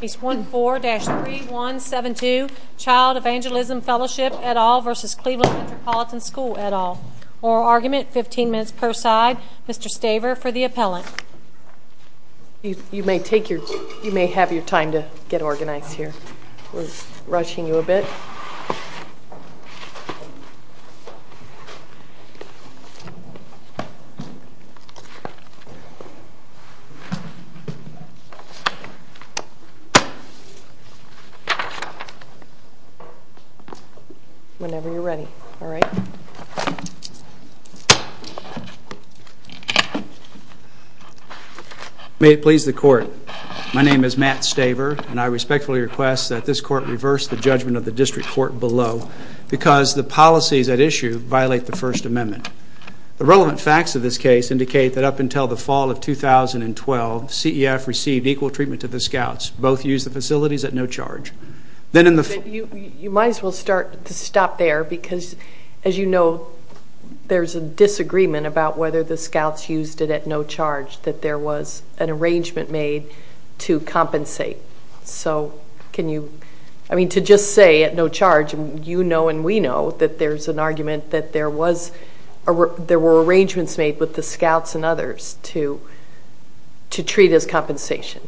Page 14-3172 Child Evangelism Fellowship et al. v. Cleveland Metropolitan School et al. Oral argument, 15 minutes per side. Mr. Staver for the appellant. You may have your time to get organized here. We're rushing you a bit. Whenever you're ready. May it please the court. My name is Matt Staver and I respectfully request that this court reverse the judgment of the district court below, because the policies at issue violate the First Amendment. The relevant facts of this case indicate that up until the fall of 2012, CEF received equal treatment to the scouts. Both used the facilities at no charge. You might as well stop there, because as you know, there's a disagreement about whether the scouts used it at no charge, that there was an arrangement made to compensate. To just say at no charge, you know and we know that there's an argument that there were arrangements made with the scouts and others to treat as compensation.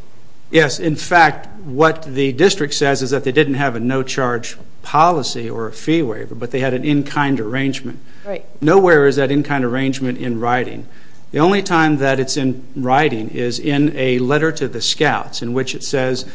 Yes, in fact, what the district says is that they didn't have a no charge policy or a fee waiver, but they had an in-kind arrangement. Nowhere is that in-kind arrangement in writing. The only time that it's in writing is in a letter to the scouts in which it says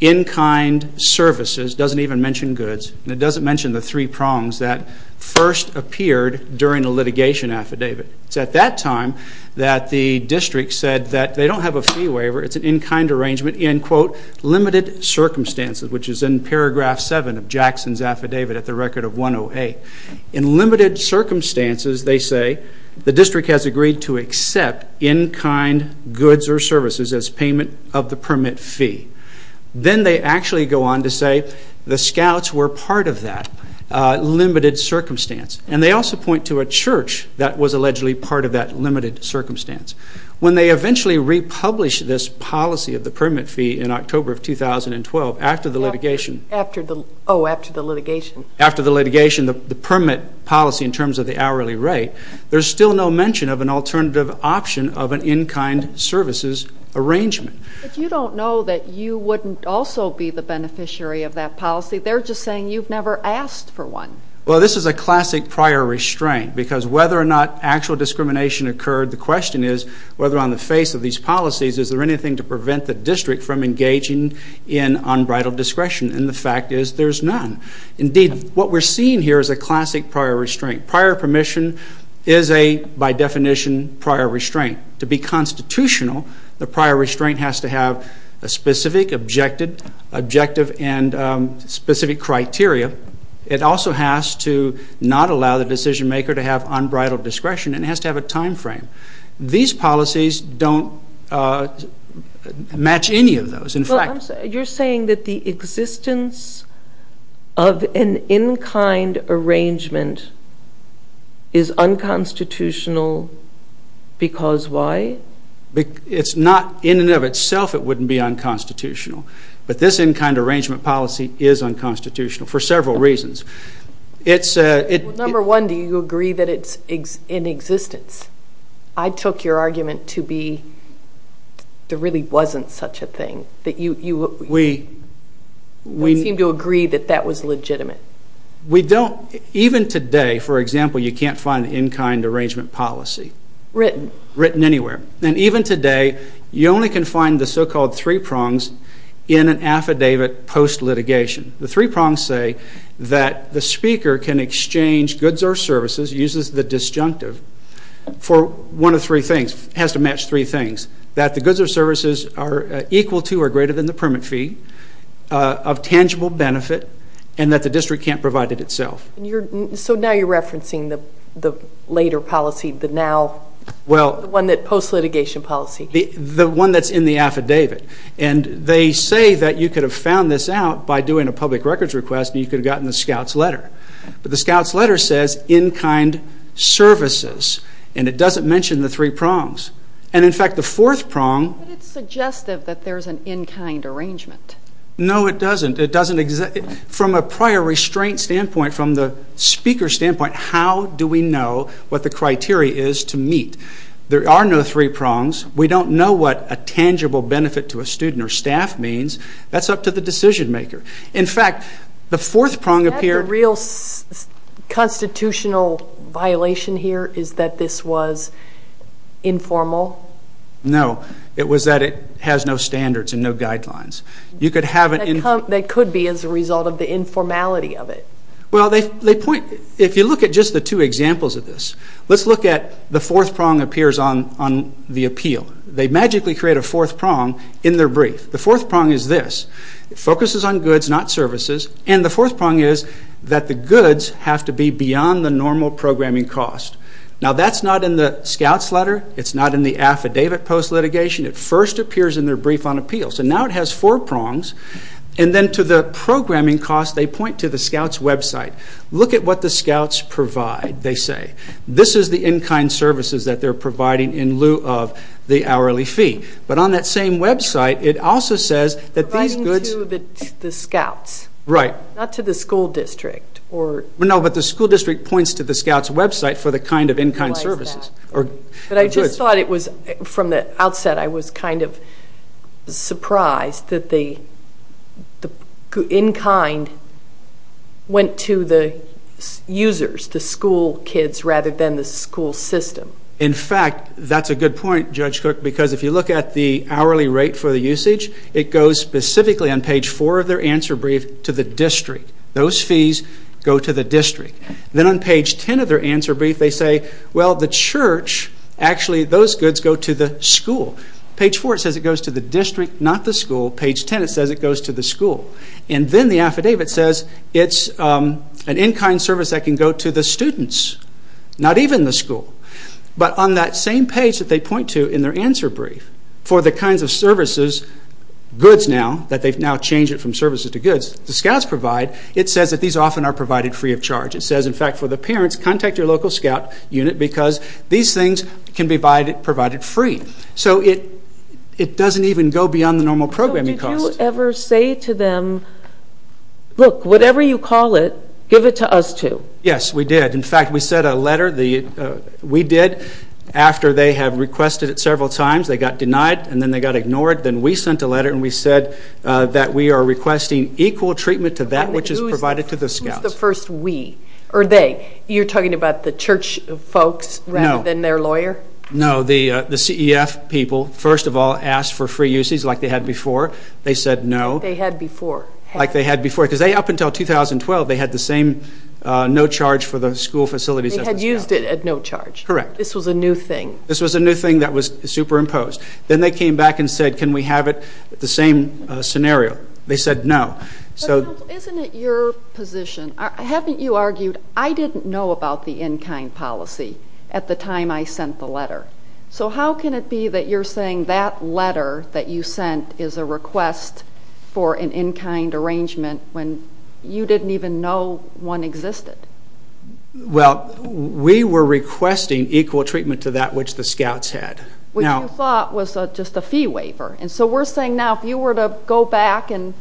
in-kind services, doesn't even mention goods, and it doesn't mention the three prongs that first appeared during a litigation affidavit. It's at that time that the district said that they don't have a fee waiver, it's an in-kind arrangement in, quote, limited circumstances, which is in paragraph seven of Jackson's affidavit at the record of 108. In limited circumstances, they say, the district has agreed to accept in-kind goods or services as payment of the permit fee. Then they actually go on to say the scouts were part of that limited circumstance. And they also point to a church that was allegedly part of that limited circumstance. When they eventually republish this policy of the permit fee in October of 2012, after the litigation. Oh, after the litigation. After the litigation, the permit policy in terms of the hourly rate. There's still no mention of an alternative option of an in-kind services arrangement. But you don't know that you wouldn't also be the beneficiary of that policy. They're just saying you've never asked for one. Well, this is a classic prior restraint because whether or not actual discrimination occurred, the question is whether on the face of these policies is there anything to prevent the district from engaging in unbridled discretion. And the fact is there's none. Indeed, what we're seeing here is a classic prior restraint. Prior permission is a, by definition, prior restraint. To be constitutional, the prior restraint has to have a specific objective and specific criteria. It also has to not allow the decision maker to have unbridled discretion. It has to have a time frame. These policies don't match any of those. You're saying that the existence of an in-kind arrangement is unconstitutional because why? It's not in and of itself it wouldn't be unconstitutional. But this in-kind arrangement policy is unconstitutional for several reasons. Number one, do you agree that it's in existence? I took your argument to be there really wasn't such a thing. We seem to agree that that was legitimate. Even today, for example, you can't find in-kind arrangement policy. Written. Written anywhere. And even today, you only can find the so-called three prongs in an affidavit post-litigation. The three prongs say that the speaker can exchange goods or services, uses the disjunctive for one of three things, has to match three things, that the goods or services are equal to or greater than the permit fee, of tangible benefit, and that the district can't provide it itself. So now you're referencing the later policy, the now, the one that post-litigation policy. The one that's in the affidavit. And they say that you could have found this out by doing a public records request and you could have gotten the scout's letter. But the scout's letter says in-kind services, and it doesn't mention the three prongs. And, in fact, the fourth prong. But it's suggestive that there's an in-kind arrangement. No, it doesn't. From a prior restraint standpoint, from the speaker's standpoint, how do we know what the criteria is to meet? There are no three prongs. We don't know what a tangible benefit to a student or staff means. That's up to the decision maker. In fact, the fourth prong appears. Is that the real constitutional violation here is that this was informal? No. It was that it has no standards and no guidelines. That could be as a result of the informality of it. Well, if you look at just the two examples of this, let's look at the fourth prong appears on the appeal. They magically create a fourth prong in their brief. The fourth prong is this. It focuses on goods, not services. And the fourth prong is that the goods have to be beyond the normal programming cost. Now, that's not in the scout's letter. It's not in the affidavit post-litigation. It first appears in their brief on appeals. And now it has four prongs. And then to the programming cost, they point to the scout's website. Look at what the scouts provide, they say. This is the in-kind services that they're providing in lieu of the hourly fee. But on that same website, it also says that these goods. Providing to the scouts. Right. Not to the school district. No, but the school district points to the scout's website for the kind of in-kind services. But I just thought it was, from the outset, I was kind of surprised that the in-kind went to the users, the school kids, rather than the school system. In fact, that's a good point, Judge Cook, because if you look at the hourly rate for the usage, it goes specifically on page four of their answer brief to the district. Those fees go to the district. Then on page ten of their answer brief, they say, well, the church, actually those goods go to the school. Page four says it goes to the district, not the school. Page ten, it says it goes to the school. And then the affidavit says it's an in-kind service that can go to the students, not even the school. But on that same page that they point to in their answer brief, for the kinds of services, goods now, that they've now changed it from services to goods, the scouts provide, it says that these often are provided free of charge. It says, in fact, for the parents, contact your local scout unit because these things can be provided free. So it doesn't even go beyond the normal programming cost. So did you ever say to them, look, whatever you call it, give it to us too? Yes, we did. In fact, we sent a letter, we did, after they have requested it several times. They got denied, and then they got ignored. Then we sent a letter, and we said that we are requesting equal treatment to that which is provided to the scouts. It's the first we, or they. You're talking about the church folks rather than their lawyer? No. No, the CEF people, first of all, asked for free uses like they had before. They said no. Like they had before. Like they had before. Because up until 2012, they had the same no charge for the school facilities as the scouts. They had used it at no charge. Correct. This was a new thing. This was a new thing that was superimposed. Then they came back and said, can we have it the same scenario? They said no. Isn't it your position? Haven't you argued, I didn't know about the in-kind policy at the time I sent the letter. So how can it be that you're saying that letter that you sent is a request for an in-kind arrangement when you didn't even know one existed? Well, we were requesting equal treatment to that which the scouts had. Which you thought was just a fee waiver. And so we're saying now if you were to go back and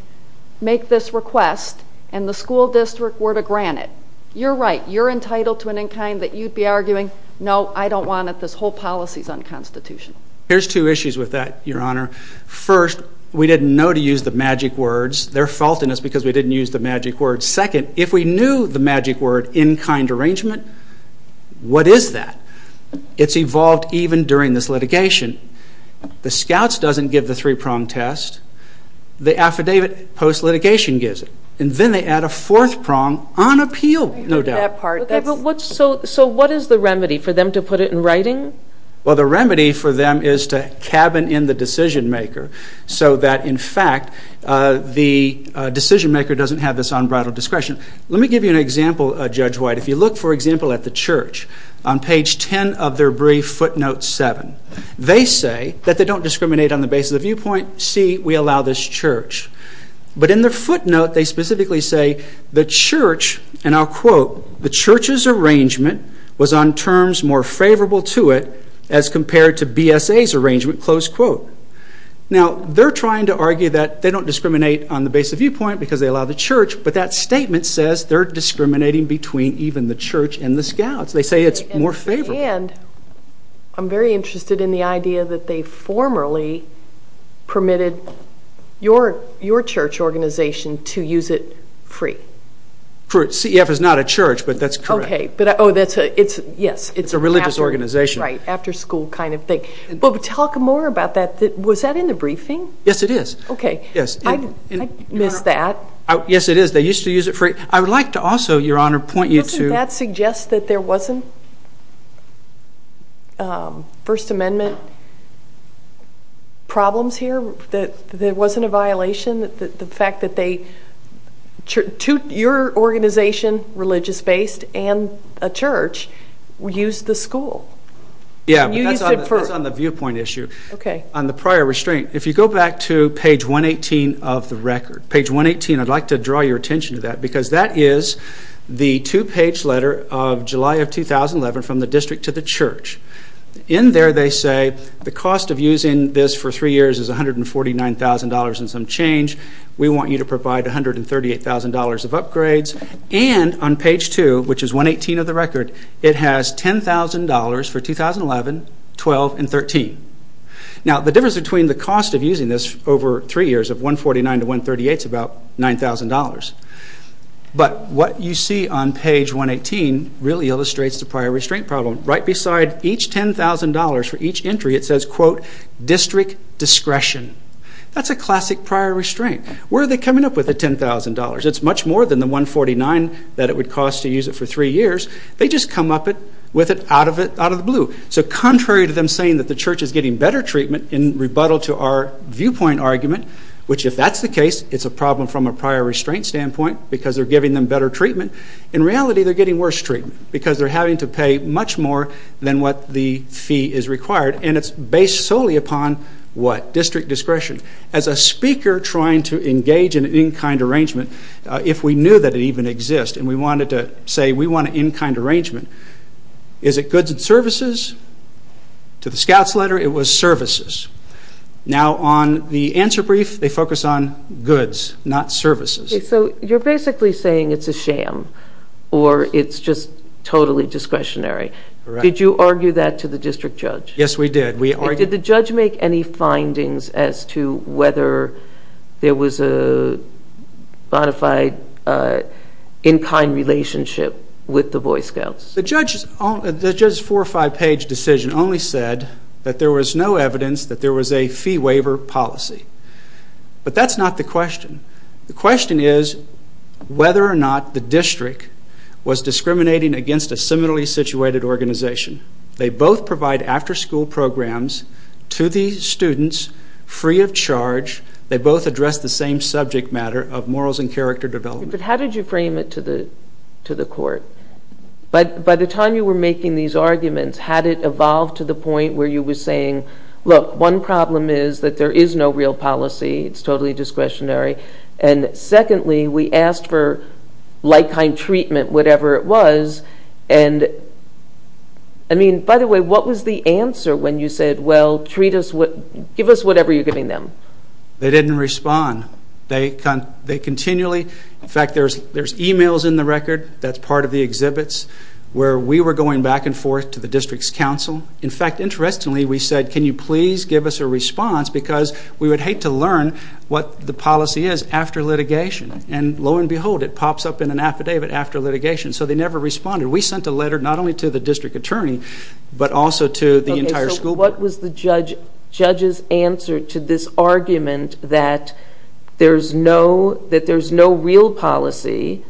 make this request and the school district were to grant it, you're right. You're entitled to an in-kind that you'd be arguing, no, I don't want it. This whole policy is unconstitutional. Here's two issues with that, Your Honor. First, we didn't know to use the magic words. They're faulting us because we didn't use the magic words. Second, if we knew the magic word in-kind arrangement, what is that? It's evolved even during this litigation. The scouts doesn't give the three-prong test. The affidavit post-litigation gives it. And then they add a fourth prong on appeal, no doubt. So what is the remedy for them to put it in writing? Well, the remedy for them is to cabin in the decision-maker so that, in fact, the decision-maker doesn't have this unbridled discretion. Let me give you an example, Judge White. If you look, for example, at the church, on page 10 of their brief, footnote 7, they say that they don't discriminate on the basis of viewpoint. See, we allow this church. But in their footnote, they specifically say, the church, and I'll quote, the church's arrangement was on terms more favorable to it as compared to BSA's arrangement, close quote. Now, they're trying to argue that they don't discriminate on the basis of viewpoint because they allow the church, but that statement says they're discriminating between even the church and the scouts. They say it's more favorable. And I'm very interested in the idea that they formerly permitted your church organization to use it free. C.E.F. is not a church, but that's correct. Okay. Oh, yes. It's a religious organization. Right. After school kind of thing. But talk more about that. Was that in the briefing? Yes, it is. Okay. I missed that. Yes, it is. They used to use it free. I would like to also, Your Honor, point you to Does that suggest that there wasn't First Amendment problems here? That there wasn't a violation? The fact that your organization, religious-based, and a church used the school? Yes, but that's on the viewpoint issue. Okay. On the prior restraint, if you go back to page 118 of the record, page 118, I'd like to draw your attention to that because that is the two-page letter of July of 2011 from the district to the church. In there, they say the cost of using this for three years is $149,000 and some change. We want you to provide $138,000 of upgrades. And on page 2, which is 118 of the record, it has $10,000 for 2011, 12, and 13. Now, the difference between the cost of using this over three years of $149,000 to $138,000 is about $9,000. But what you see on page 118 really illustrates the prior restraint problem. Right beside each $10,000 for each entry, it says, quote, district discretion. That's a classic prior restraint. Where are they coming up with the $10,000? It's much more than the $149,000 that it would cost to use it for three years. They just come up with it out of the blue. So contrary to them saying that the church is getting better treatment in rebuttal to our viewpoint argument, which if that's the case, it's a problem from a prior restraint standpoint because they're giving them better treatment. In reality, they're getting worse treatment because they're having to pay much more than what the fee is required. And it's based solely upon what? District discretion. As a speaker trying to engage in an in-kind arrangement, if we knew that it even exists and we wanted to say we want an in-kind arrangement, is it goods and services? To the scout's letter, it was services. Now on the answer brief, they focus on goods, not services. So you're basically saying it's a sham or it's just totally discretionary. Correct. Did you argue that to the district judge? Yes, we did. Did the judge make any findings as to whether there was a bona fide in-kind relationship with the Boy Scouts? The judge's four- or five-page decision only said that there was no evidence that there was a fee waiver policy. But that's not the question. The question is whether or not the district was discriminating against a similarly situated organization. They both provide after-school programs to the students free of charge. They both address the same subject matter of morals and character development. But how did you frame it to the court? By the time you were making these arguments, had it evolved to the point where you were saying, look, one problem is that there is no real policy, it's totally discretionary, and secondly, we asked for like-kind treatment, whatever it was, and I mean, by the way, what was the answer when you said, well, give us whatever you're giving them? They didn't respond. They continually, in fact, there's e-mails in the record that's part of the exhibits where we were going back and forth to the district's council. In fact, interestingly, we said, can you please give us a response because we would hate to learn what the policy is after litigation. And lo and behold, it pops up in an affidavit after litigation. So they never responded. We sent a letter not only to the district attorney but also to the entire school board. Okay, so what was the judge's answer to this argument that there's no real policy,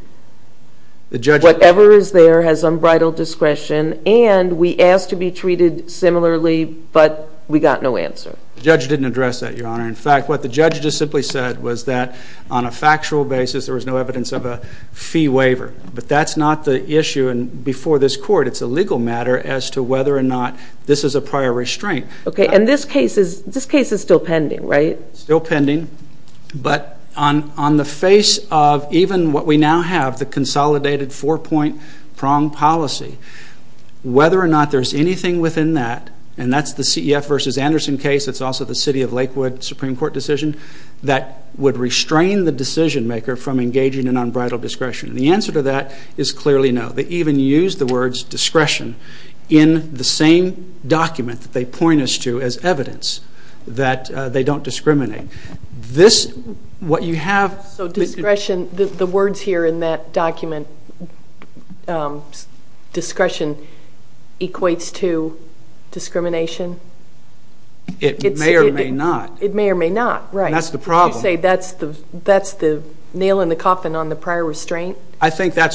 whatever is there has unbridled discretion, and we asked to be treated similarly but we got no answer? The judge didn't address that, Your Honor. In fact, what the judge just simply said was that on a factual basis there was no evidence of a fee waiver. But that's not the issue before this court. It's a legal matter as to whether or not this is a prior restraint. Okay, and this case is still pending, right? Still pending. But on the face of even what we now have, the consolidated four-point prong policy, whether or not there's anything within that, and that's the CEF versus Anderson case, it's also the City of Lakewood Supreme Court decision, that would restrain the decision maker from engaging in unbridled discretion. The answer to that is clearly no. They even used the words discretion in the same document that they point us to as evidence, that they don't discriminate. So discretion, the words here in that document, discretion equates to discrimination? It may or may not. It may or may not, right. That's the problem. I think that's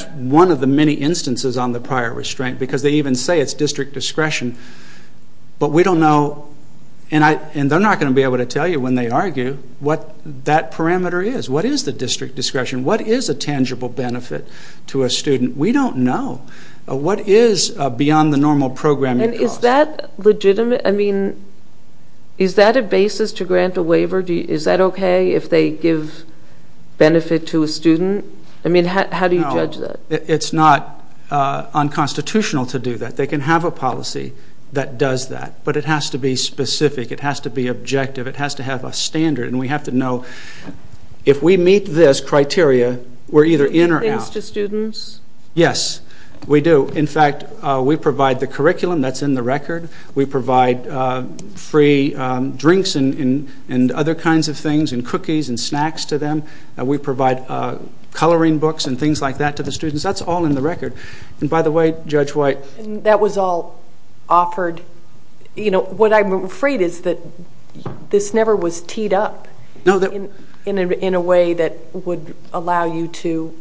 one of the many instances on the prior restraint because they even say it's district discretion. But we don't know, and they're not going to be able to tell you when they argue, what that parameter is. What is the district discretion? What is a tangible benefit to a student? We don't know. What is beyond the normal programming cost? And is that legitimate? I mean, is that a basis to grant a waiver? Is that okay if they give benefit to a student? I mean, how do you judge that? It's not unconstitutional to do that. They can have a policy that does that. But it has to be specific. It has to be objective. It has to have a standard. And we have to know if we meet this criteria, we're either in or out. Do you give things to students? Yes, we do. In fact, we provide the curriculum that's in the record. We provide free drinks and other kinds of things and cookies and snacks to them. We provide coloring books and things like that to the students. That's all in the record. And by the way, Judge White. That was all offered. What I'm afraid is that this never was teed up in a way that would allow you to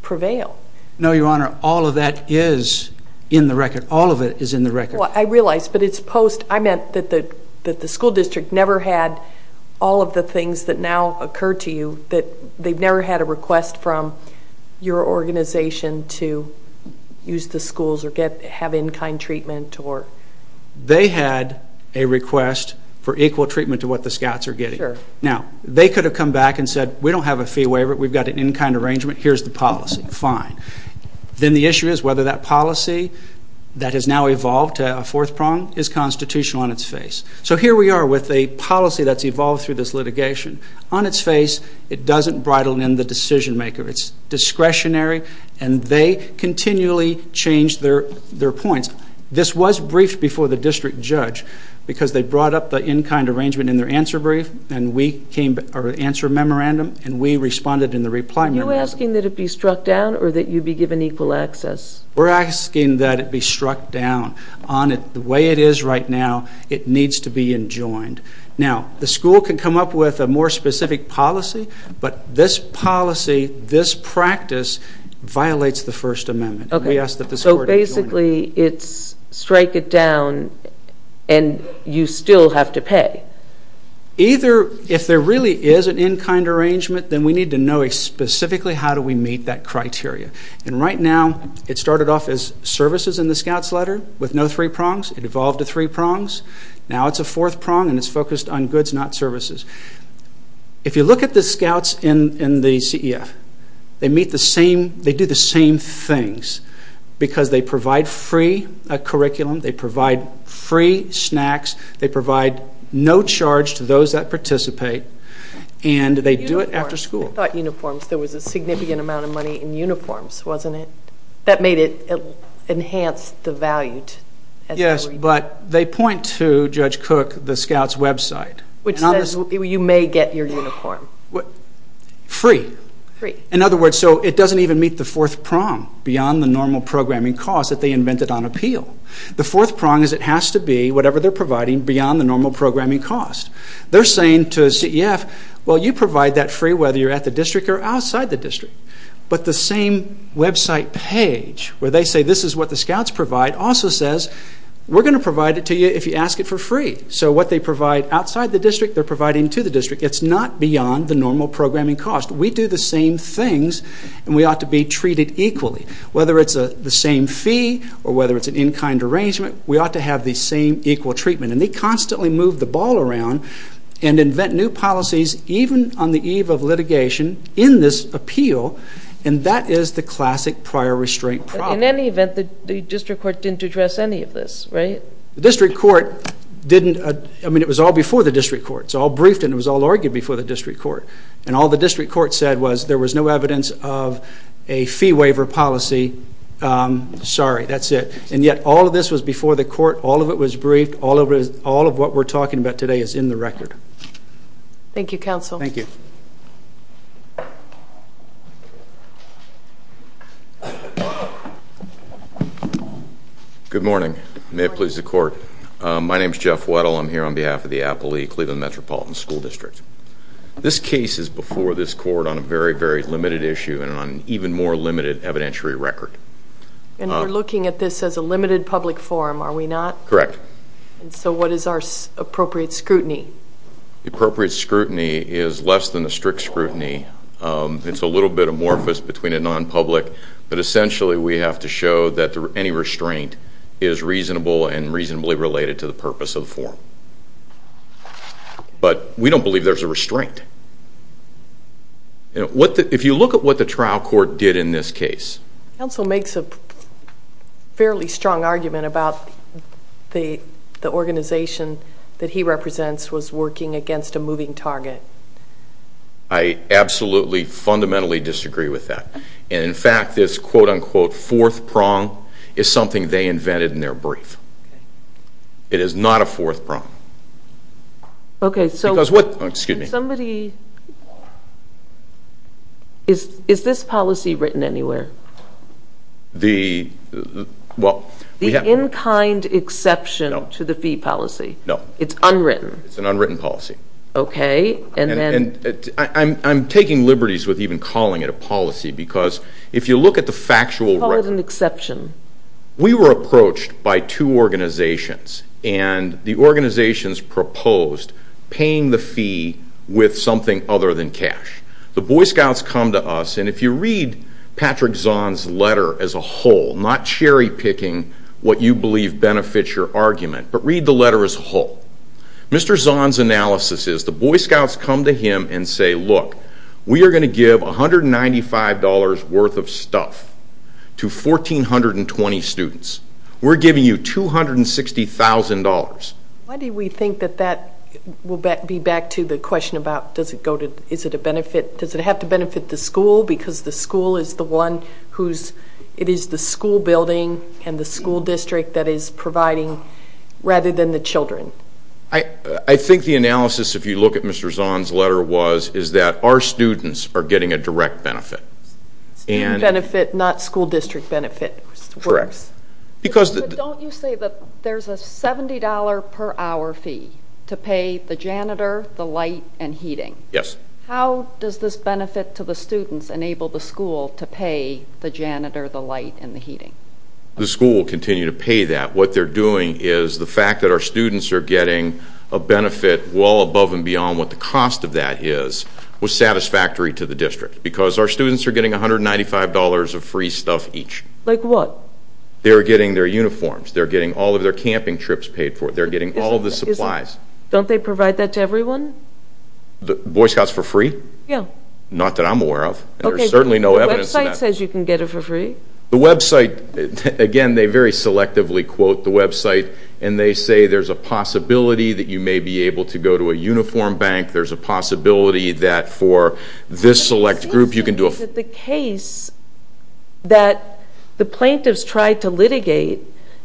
prevail. No, Your Honor, all of that is in the record. All of it is in the record. I realize, but it's post. I meant that the school district never had all of the things that now occur to you. They've never had a request from your organization to use the schools or have in-kind treatment. They had a request for equal treatment to what the Scots are getting. Now, they could have come back and said, We don't have a fee waiver. We've got an in-kind arrangement. Here's the policy. Fine. Then the issue is whether that policy that has now evolved to a fourth prong is constitutional on its face. So here we are with a policy that's evolved through this litigation. On its face, it doesn't bridle in the decision maker. It's discretionary, and they continually change their points. This was briefed before the district judge because they brought up the in-kind arrangement in their answer brief and we came, or answer memorandum, and we responded in the reply memorandum. Are you asking that it be struck down or that you be given equal access? We're asking that it be struck down. The way it is right now, it needs to be enjoined. Now, the school can come up with a more specific policy, but this policy, this practice violates the First Amendment. So basically, it's strike it down and you still have to pay. If there really is an in-kind arrangement, then we need to know specifically how do we meet that criteria. And right now, it started off as services in the scout's letter with no three prongs. It evolved to three prongs. Now it's a fourth prong and it's focused on goods, not services. If you look at the scouts in the CEF, they do the same things because they provide free curriculum, they provide free snacks, they provide no charge to those that participate, and they do it after school. Uniforms. I thought uniforms. There was a significant amount of money in uniforms, wasn't it, that made it enhance the value? Yes, but they point to, Judge Cook, the scouts' website. Which says you may get your uniform. Free. Free. In other words, so it doesn't even meet the fourth prong beyond the normal programming cost that they invented on appeal. The fourth prong is it has to be whatever they're providing beyond the normal programming cost. They're saying to a CEF, well, you provide that free whether you're at the district or outside the district. But the same website page where they say this is what the scouts provide also says we're going to provide it to you if you ask it for free. So what they provide outside the district, they're providing to the district. It's not beyond the normal programming cost. We do the same things and we ought to be treated equally. Whether it's the same fee or whether it's an in-kind arrangement, we ought to have the same equal treatment. And they constantly move the ball around and invent new policies even on the eve of litigation in this appeal. And that is the classic prior restraint problem. In any event, the district court didn't address any of this, right? The district court didn't. I mean, it was all before the district court. It was all briefed and it was all argued before the district court. And all the district court said was there was no evidence of a fee waiver policy. Sorry, that's it. And yet all of this was before the court. All of it was briefed. All of what we're talking about today is in the record. Thank you, counsel. Thank you. Good morning. May it please the court. My name is Jeff Weddle. I'm here on behalf of the Appalachian-Cleveland Metropolitan School District. This case is before this court on a very, very limited issue and on an even more limited evidentiary record. And we're looking at this as a limited public forum, are we not? Correct. And so what is our appropriate scrutiny? Appropriate scrutiny is less than a strict scrutiny. It's a little bit amorphous between a non-public. But essentially we have to show that any restraint is reasonable and reasonably related to the purpose of the forum. But we don't believe there's a restraint. If you look at what the trial court did in this case. Counsel makes a fairly strong argument about the organization that he represents was working against a moving target. I absolutely, fundamentally disagree with that. And, in fact, this quote-unquote fourth prong is something they invented in their brief. It is not a fourth prong. Okay, so. Because what, excuse me. Somebody, is this policy written anywhere? The, well. The in-kind exception to the fee policy. No. It's unwritten. It's an unwritten policy. Okay, and then. I'm taking liberties with even calling it a policy because if you look at the factual record. You call it an exception. We were approached by two organizations. And the organizations proposed paying the fee with something other than cash. The Boy Scouts come to us, and if you read Patrick Zahn's letter as a whole, not cherry-picking what you believe benefits your argument, but read the letter as a whole. Mr. Zahn's analysis is the Boy Scouts come to him and say, look, we are going to give $195 worth of stuff to 1,420 students. We're giving you $260,000. Why do we think that that will be back to the question about, does it go to, is it a benefit, does it have to benefit the school because the school is the one who's, it is the school building and the school district that is providing rather than the children? I think the analysis, if you look at Mr. Zahn's letter, is that our students are getting a direct benefit. Student benefit, not school district benefit. Correct. But don't you say that there's a $70 per hour fee to pay the janitor, the light, and heating? Yes. How does this benefit to the students enable the school to pay the janitor, the light, and the heating? The school will continue to pay that. What they're doing is the fact that our students are getting a benefit well above and beyond what the cost of that is, was satisfactory to the district because our students are getting $195 of free stuff each. Like what? They're getting their uniforms. They're getting all of their camping trips paid for. They're getting all of the supplies. Don't they provide that to everyone? Boy Scouts for free? Yes. Not that I'm aware of. There's certainly no evidence of that. The website says you can get it for free. The website, again, they very selectively quote the website, and they say there's a possibility that you may be able to go to a uniform bank. There's a possibility that for this select group you can do a free. The case that the plaintiffs tried to litigate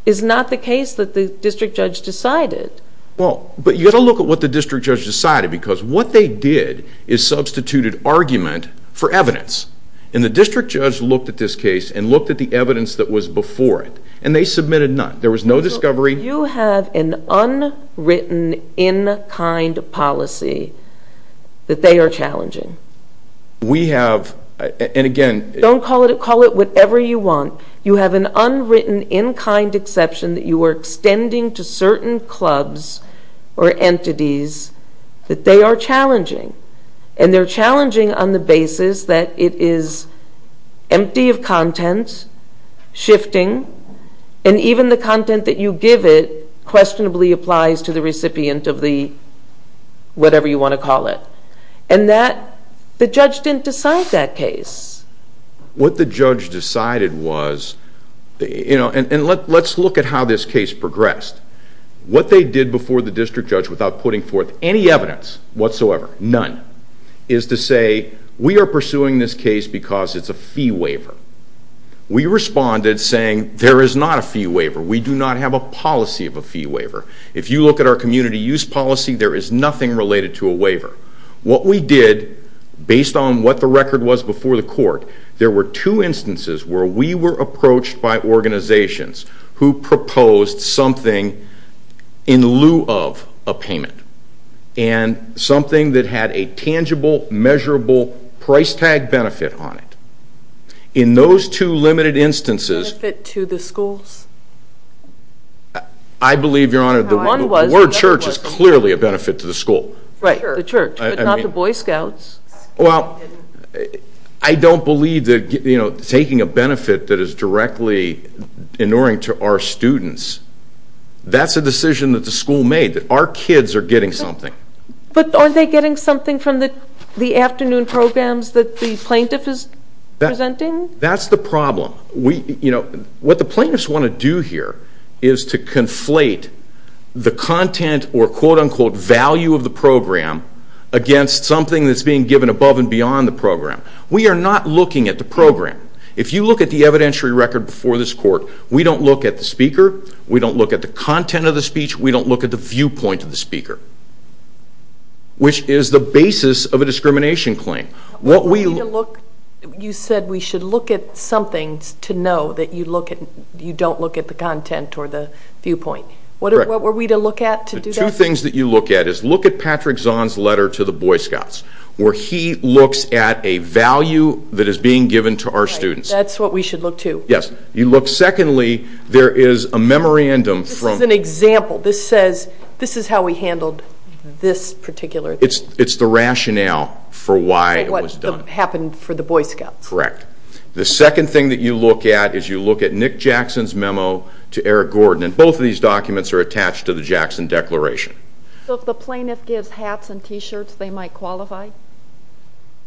is not the case that the district judge decided. Well, but you've got to look at what the district judge decided because what they did is substituted argument for evidence. And the district judge looked at this case and looked at the evidence that was before it, and they submitted none. There was no discovery. You have an unwritten in-kind policy that they are challenging. We have, and again. Don't call it whatever you want. You have an unwritten in-kind exception that you are extending to certain clubs or entities that they are challenging, and they're challenging on the basis that it is empty of content, shifting, and even the content that you give it questionably applies to the recipient of the whatever you want to call it. And the judge didn't decide that case. What the judge decided was, and let's look at how this case progressed. What they did before the district judge without putting forth any evidence whatsoever, none, is to say we are pursuing this case because it's a fee waiver. We responded saying there is not a fee waiver. We do not have a policy of a fee waiver. If you look at our community use policy, there is nothing related to a waiver. What we did, based on what the record was before the court, there were two instances where we were approached by organizations who proposed something in lieu of a payment and something that had a tangible, measurable price tag benefit on it. In those two limited instances... Benefit to the schools? I believe, Your Honor, the word church is clearly a benefit to the school. Right, the church, but not the Boy Scouts. Well, I don't believe that taking a benefit that is directly inuring to our students, that's a decision that the school made, that our kids are getting something. But aren't they getting something from the afternoon programs that the plaintiff is presenting? That's the problem. What the plaintiffs want to do here is to conflate the content or quote-unquote value of the program against something that's being given above and beyond the program. We are not looking at the program. If you look at the evidentiary record before this court, we don't look at the speaker, we don't look at the content of the speech, we don't look at the viewpoint of the speaker, which is the basis of a discrimination claim. You said we should look at something to know that you don't look at the content or the viewpoint. What were we to look at to do that? The two things that you look at is look at Patrick Zahn's letter to the Boy Scouts, where he looks at a value that is being given to our students. That's what we should look to? Yes. You look, secondly, there is a memorandum from... This is an example, this says this is how we handled this particular... It's the rationale for why it was done. For what happened for the Boy Scouts. Correct. The second thing that you look at is you look at Nick Jackson's memo to Eric Gordon, and both of these documents are attached to the Jackson Declaration. So if the plaintiff gives hats and t-shirts, they might qualify?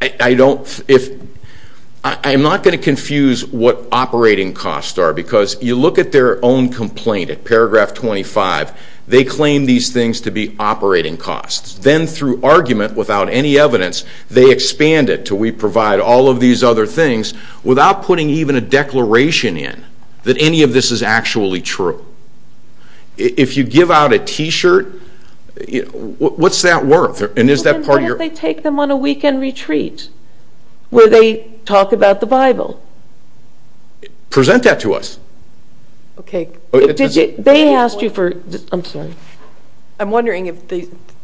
I don't... I'm not going to confuse what operating costs are, because you look at their own complaint, at paragraph 25, they claim these things to be operating costs. Then through argument, without any evidence, they expand it to we provide all of these other things without putting even a declaration in that any of this is actually true. If you give out a t-shirt, what's that worth? And is that part of your... Why don't they take them on a weekend retreat where they talk about the Bible? Present that to us. Okay. They asked you for... I'm sorry. I'm wondering if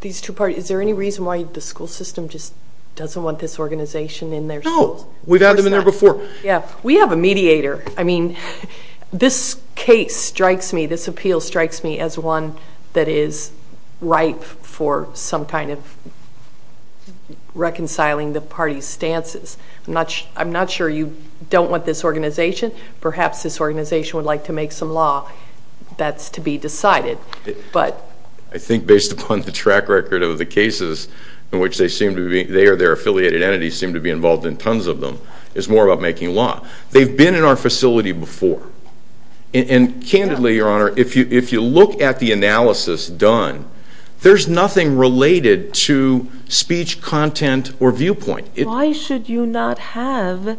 these two parties, is there any reason why the school system just doesn't want this organization in their schools? No. We've had them in there before. Yeah. We have a mediator. I mean, this case strikes me, this appeal strikes me, as one that is ripe for some kind of reconciling the parties' stances. I'm not sure you don't want this organization. Perhaps this organization would like to make some law. That's to be decided, but... I think based upon the track record of the cases in which they seem to be... It's more about making law. They've been in our facility before. And candidly, Your Honor, if you look at the analysis done, there's nothing related to speech content or viewpoint. Why should you not have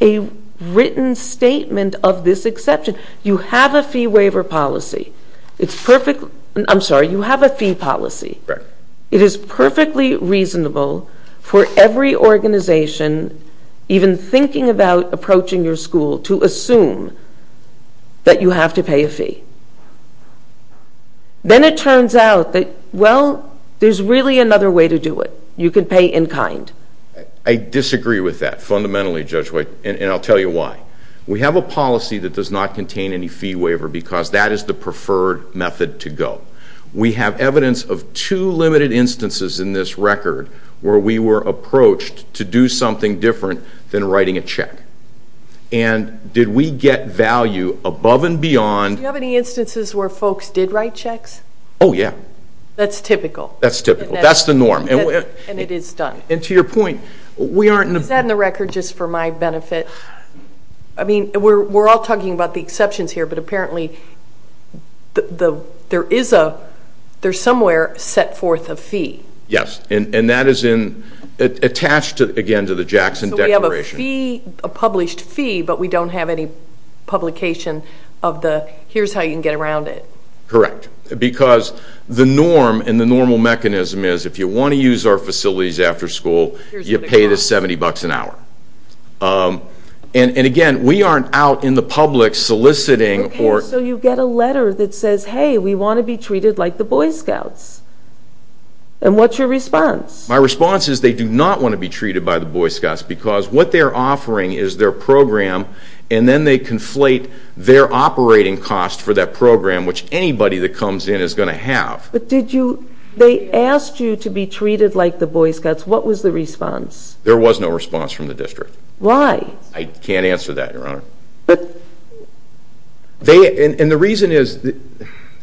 a written statement of this exception? You have a fee waiver policy. It's perfectly... I'm sorry. You have a fee policy. Correct. It is perfectly reasonable for every organization, even thinking about approaching your school, to assume that you have to pay a fee. Then it turns out that, well, there's really another way to do it. You can pay in kind. I disagree with that fundamentally, Judge White, and I'll tell you why. We have a policy that does not contain any fee waiver because that is the preferred method to go. We have evidence of two limited instances in this record where we were approached to do something different than writing a check. And did we get value above and beyond... Do you have any instances where folks did write checks? Oh, yeah. That's typical. That's typical. That's the norm. And it is done. And to your point, we aren't... Is that in the record just for my benefit? I mean, we're all talking about the exceptions here, but apparently there's somewhere set forth a fee. Yes, and that is attached, again, to the Jackson Declaration. So we have a fee, a published fee, but we don't have any publication of the here's how you can get around it. Correct. Because the norm and the normal mechanism is if you want to use our facilities after school, you pay the $70 an hour. And, again, we aren't out in the public soliciting or... Okay, so you get a letter that says, hey, we want to be treated like the Boy Scouts. And what's your response? My response is they do not want to be treated by the Boy Scouts because what they're offering is their program, and then they conflate their operating cost for that program, which anybody that comes in is going to have. But did you... They asked you to be treated like the Boy Scouts. What was the response? There was no response from the district. Why? I can't answer that, Your Honor. And the reason is,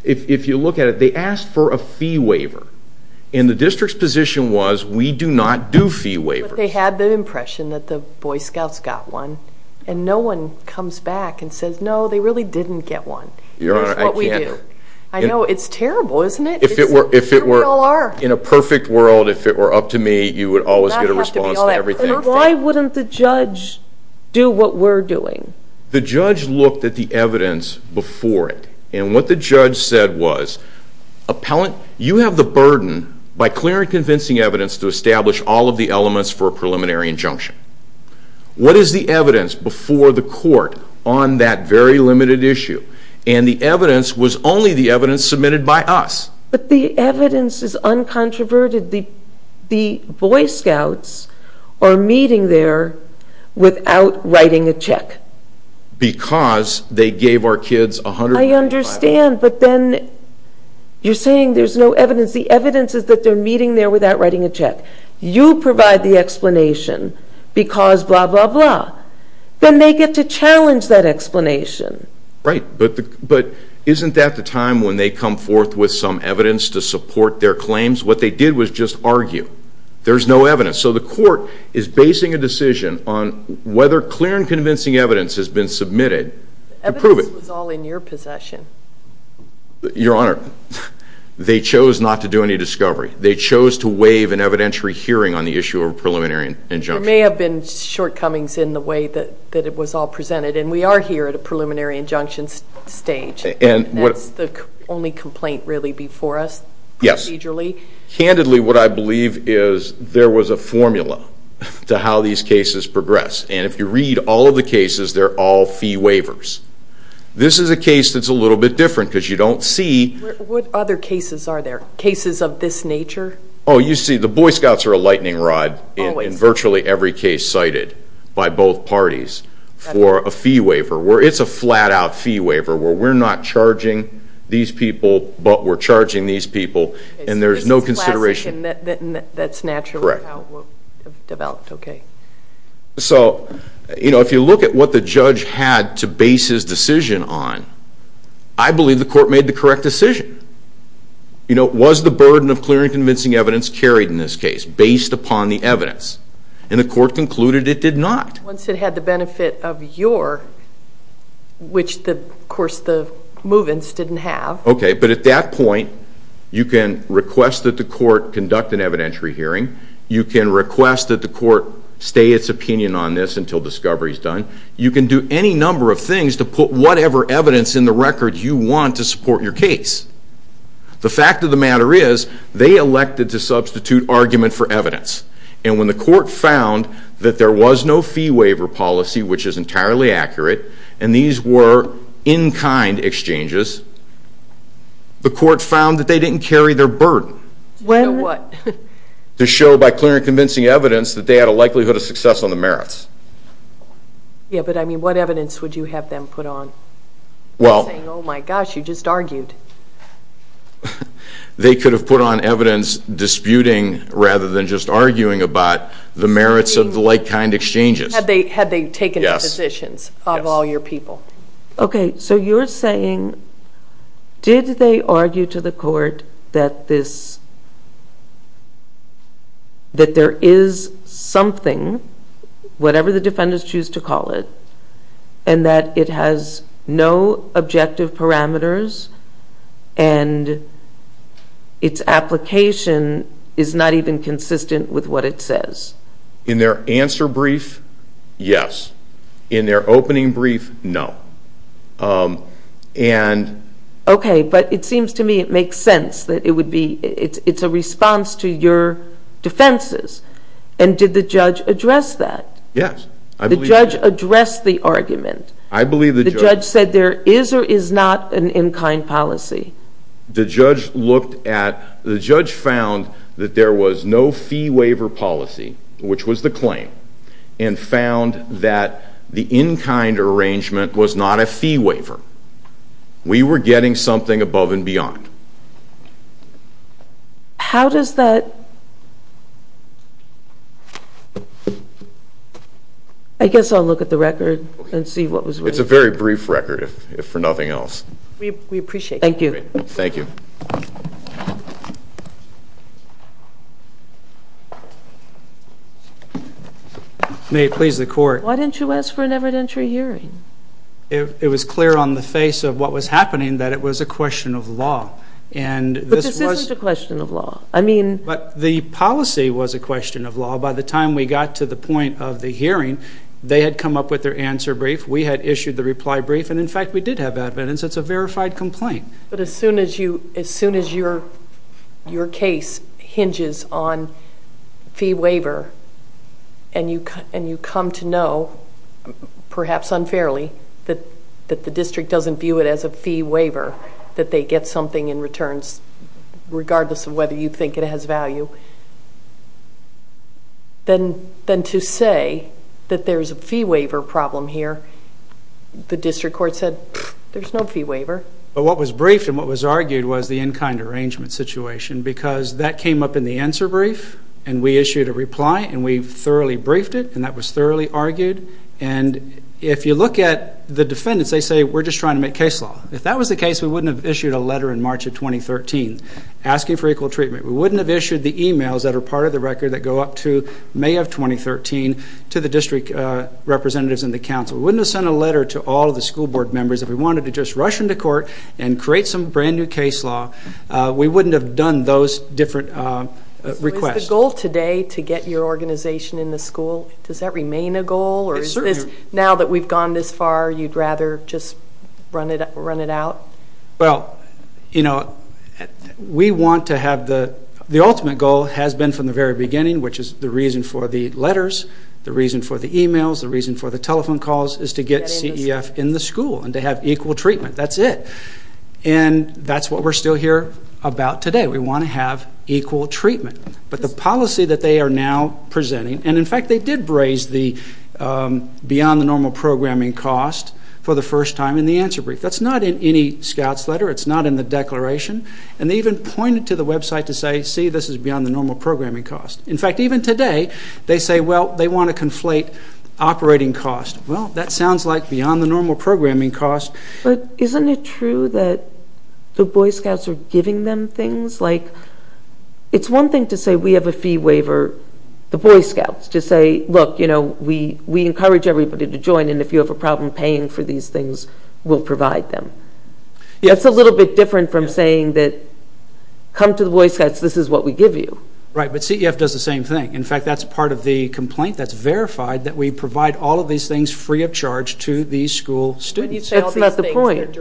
if you look at it, they asked for a fee waiver, and the district's position was we do not do fee waivers. But they had the impression that the Boy Scouts got one, and no one comes back and says, no, they really didn't get one. That's what we do. Your Honor, I can't... I know, it's terrible, isn't it? If it were in a perfect world, if it were up to me, you would always get a response to everything. Why wouldn't the judge do what we're doing? The judge looked at the evidence before it, and what the judge said was, appellant, you have the burden, by clear and convincing evidence, to establish all of the elements for a preliminary injunction. What is the evidence before the court on that very limited issue? And the evidence was only the evidence submitted by us. But the evidence is uncontroverted. The Boy Scouts are meeting there without writing a check. Because they gave our kids $125. I understand, but then you're saying there's no evidence. The evidence is that they're meeting there without writing a check. You provide the explanation because blah, blah, blah. Then they get to challenge that explanation. Right. But isn't that the time when they come forth with some evidence to support their claims? What they did was just argue. There's no evidence. So the court is basing a decision on whether clear and convincing evidence has been submitted to prove it. The evidence was all in your possession. Your Honor, they chose not to do any discovery. They chose to waive an evidentiary hearing on the issue of a preliminary injunction. There may have been shortcomings in the way that it was all presented, and we are here at a preliminary injunction stage. That's the only complaint really before us procedurally? Yes. Candidly, what I believe is there was a formula to how these cases progress. And if you read all of the cases, they're all fee waivers. This is a case that's a little bit different because you don't see. What other cases are there, cases of this nature? Oh, you see, the Boy Scouts are a lightning rod in virtually every case cited by both parties for a fee waiver. It's a flat-out fee waiver where we're not charging these people, but we're charging these people, and there's no consideration. It's a classic, and that's naturally how it developed. So if you look at what the judge had to base his decision on, I believe the court made the correct decision. Was the burden of clear and convincing evidence carried in this case based upon the evidence? And the court concluded it did not. Once it had the benefit of your, which, of course, the Movens didn't have. Okay, but at that point you can request that the court conduct an evidentiary hearing. You can request that the court stay its opinion on this until discovery is done. You can do any number of things to put whatever evidence in the record you want to support your case. The fact of the matter is they elected to substitute argument for evidence. And when the court found that there was no fee waiver policy, which is entirely accurate, and these were in-kind exchanges, the court found that they didn't carry their burden. To show what? To show by clear and convincing evidence that they had a likelihood of success on the merits. Yeah, but, I mean, what evidence would you have them put on? Saying, oh, my gosh, you just argued. They could have put on evidence disputing rather than just arguing about the merits of the like-kind exchanges. Had they taken the positions of all your people. Yes. Okay, so you're saying, did they argue to the court that there is something, whatever the defendants choose to call it, and that it has no objective parameters and its application is not even consistent with what it says? In their answer brief, yes. In their opening brief, no. Okay, but it seems to me it makes sense that it would be, it's a response to your defenses. And did the judge address that? Yes. The judge addressed the argument. I believe the judge. The judge said there is or is not an in-kind policy. The judge looked at, the judge found that there was no fee waiver policy, which was the claim, and found that the in-kind arrangement was not a fee waiver. We were getting something above and beyond. How does that, I guess I'll look at the record and see what was written. It's a very brief record, if for nothing else. We appreciate that. Thank you. Thank you. May it please the Court. Why didn't you ask for an evidentiary hearing? It was clear on the face of what was happening that it was a question of law. But this isn't a question of law. But the policy was a question of law. By the time we got to the point of the hearing, they had come up with their answer brief, we had issued the reply brief, and, in fact, we did have evidence. It's a verified complaint. But as soon as your case hinges on fee waiver, and you come to know, perhaps unfairly, that the district doesn't view it as a fee waiver, that they get something in returns regardless of whether you think it has value, then to say that there's a fee waiver problem here, the district court said, there's no fee waiver. But what was briefed and what was argued was the in-kind arrangement situation because that came up in the answer brief, and we issued a reply, and we thoroughly briefed it, and that was thoroughly argued. And if you look at the defendants, they say, we're just trying to make case law. If that was the case, we wouldn't have issued a letter in March of 2013 asking for equal treatment. We wouldn't have issued the e-mails that are part of the record that go up to May of 2013 to the district representatives and the council. We wouldn't have sent a letter to all of the school board members. If we wanted to just rush into court and create some brand-new case law, we wouldn't have done those different requests. So is the goal today to get your organization in the school, does that remain a goal? Now that we've gone this far, you'd rather just run it out? Well, you know, we want to have the ultimate goal has been from the very beginning, which is the reason for the letters, the reason for the e-mails, the reason for the telephone calls is to get CEF in the school and to have equal treatment. That's it. And that's what we're still here about today. We want to have equal treatment. But the policy that they are now presenting, and, in fact, they did braze the beyond the normal programming cost for the first time in the answer brief. That's not in any scout's letter. It's not in the declaration. And they even pointed to the website to say, see, this is beyond the normal programming cost. In fact, even today they say, well, they want to conflate operating cost. Well, that sounds like beyond the normal programming cost. But isn't it true that the Boy Scouts are giving them things? It's one thing to say we have a fee waiver, the Boy Scouts, to say, look, we encourage everybody to join, and if you have a problem paying for these things, we'll provide them. It's a little bit different from saying that come to the Boy Scouts, this is what we give you. Right, but CEF does the same thing. In fact, that's part of the complaint that's verified, that we provide all of these things free of charge to the school students. That's not the point.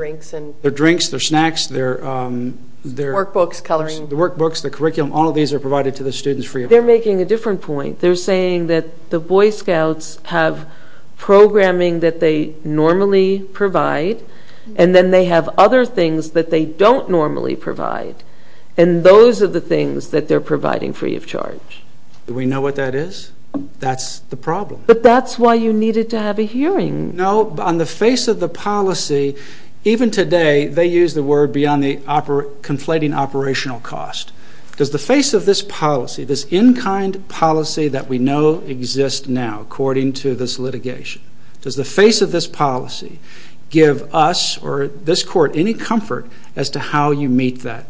Their drinks, their snacks, their workbooks, the curriculum, all of these are provided to the students free of charge. They're making a different point. They're saying that the Boy Scouts have programming that they normally provide, and then they have other things that they don't normally provide, and those are the things that they're providing free of charge. Do we know what that is? That's the problem. But that's why you needed to have a hearing. No, on the face of the policy, even today, they use the word beyond the conflating operational cost. Does the face of this policy, this in-kind policy that we know exists now, according to this litigation, does the face of this policy give us or this court any comfort as to how you meet that?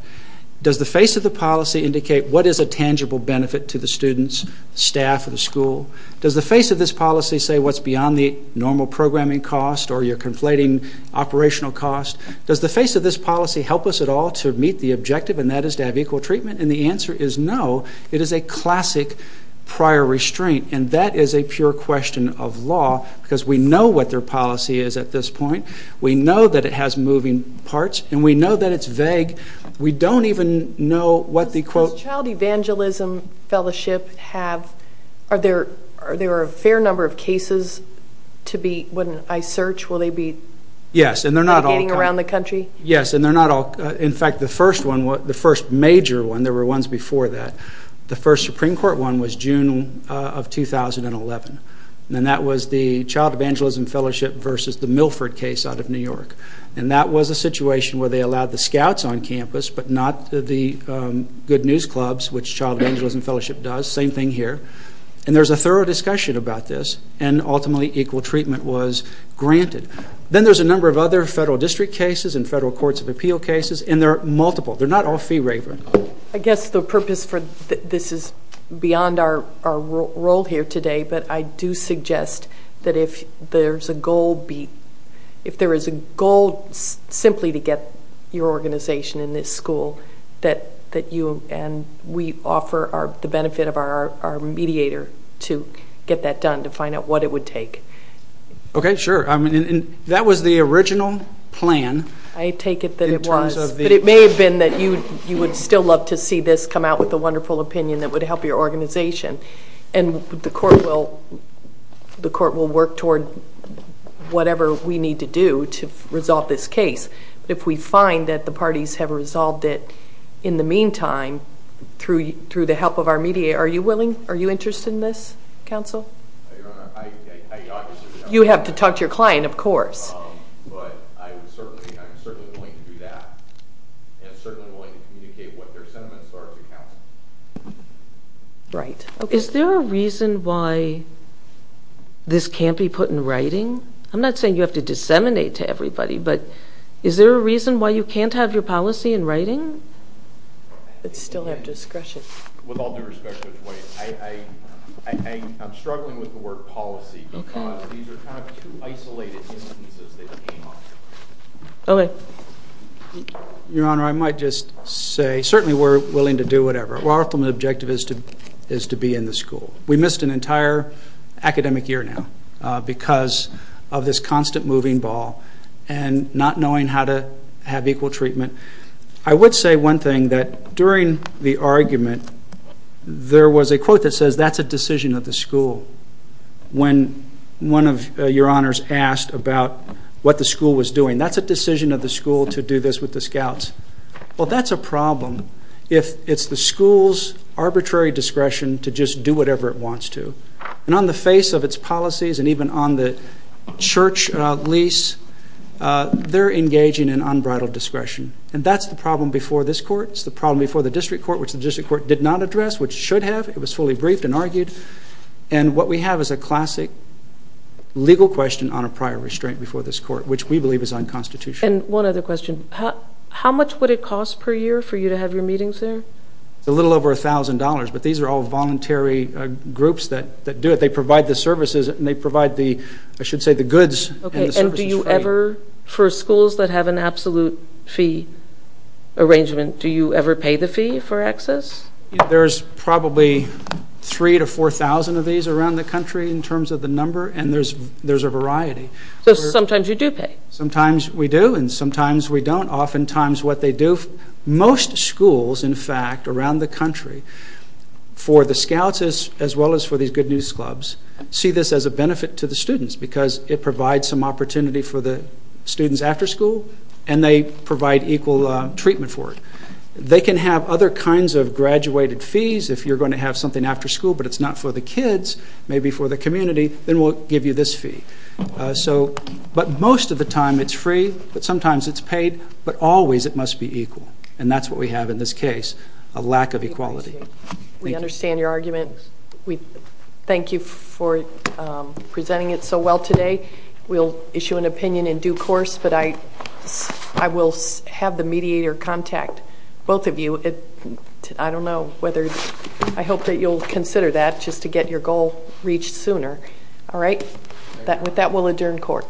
Does the face of the policy indicate what is a tangible benefit to the students, staff, or the school? Does the face of this policy say what's beyond the normal programming cost or your conflating operational cost? Does the face of this policy help us at all to meet the objective, and that is to have equal treatment? And the answer is no. It is a classic prior restraint, and that is a pure question of law, because we know what their policy is at this point. We know that it has moving parts, and we know that it's vague. We don't even know what the, quote... Does the Child Evangelism Fellowship have, are there a fair number of cases to be, when I search, will they be... Yes, and they're not all... Indicating around the country? Yes, and they're not all... In fact, the first one, the first major one, there were ones before that. The first Supreme Court one was June of 2011, and that was the Child Evangelism Fellowship versus the Milford case out of New York. And that was a situation where they allowed the scouts on campus, but not the good news clubs, which Child Evangelism Fellowship does. Same thing here. And there's a thorough discussion about this, and ultimately equal treatment was granted. Then there's a number of other federal district cases and federal courts of appeal cases, and there are multiple. They're not all fee-raver. I guess the purpose for this is beyond our role here today, but I do suggest that if there is a goal simply to get your organization in this school, that you and we offer the benefit of our mediator to get that done, to find out what it would take. Okay, sure. That was the original plan. I take it that it was. In terms of the... But it may have been that you would still love to see this come out with a wonderful opinion that would help your organization. And the court will work toward whatever we need to do to resolve this case. If we find that the parties have resolved it in the meantime through the help of our mediator, are you willing? Are you interested in this, counsel? Your Honor, I obviously... You have to talk to your client, of course. But I'm certainly willing to do that, and certainly willing to communicate what their sentiments are to counsel. Right. Is there a reason why this can't be put in writing? I'm not saying you have to disseminate to everybody, but is there a reason why you can't have your policy in writing? It's still at discretion. With all due respect, Judge White, I'm struggling with the word policy because these are kind of two isolated instances that came up. Okay. Your Honor, I might just say certainly we're willing to do whatever. Our ultimate objective is to be in the school. We missed an entire academic year now because of this constant moving ball and not knowing how to have equal treatment. I would say one thing, that during the argument, there was a quote that says that's a decision of the school. When one of your honors asked about what the school was doing, that's a decision of the school to do this with the scouts. Well, that's a problem if it's the school's arbitrary discretion to just do whatever it wants to. And on the face of its policies and even on the church lease, they're engaging in unbridled discretion. And that's the problem before this court. It's the problem before the district court, which the district court did not address, which it should have. It was fully briefed and argued. And what we have is a classic legal question on a prior restraint before this court, which we believe is unconstitutional. And one other question. How much would it cost per year for you to have your meetings there? It's a little over $1,000, but these are all voluntary groups that do it. They provide the services and they provide the, I should say, the goods. And do you ever, for schools that have an absolute fee arrangement, do you ever pay the fee for access? There's probably 3,000 to 4,000 of these around the country in terms of the number, and there's a variety. So sometimes you do pay. Sometimes we do and sometimes we don't. Oftentimes what they do, most schools, in fact, around the country, for the scouts as well as for these good news clubs, see this as a benefit to the students because it provides some opportunity for the students after school and they provide equal treatment for it. They can have other kinds of graduated fees if you're going to have something after school, but it's not for the kids, maybe for the community, then we'll give you this fee. But most of the time it's free, but sometimes it's paid, but always it must be equal, and that's what we have in this case, a lack of equality. We understand your argument. Thank you for presenting it so well today. We'll issue an opinion in due course, but I will have the mediator contact both of you. I hope that you'll consider that just to get your goal reached sooner. With that, we'll adjourn court.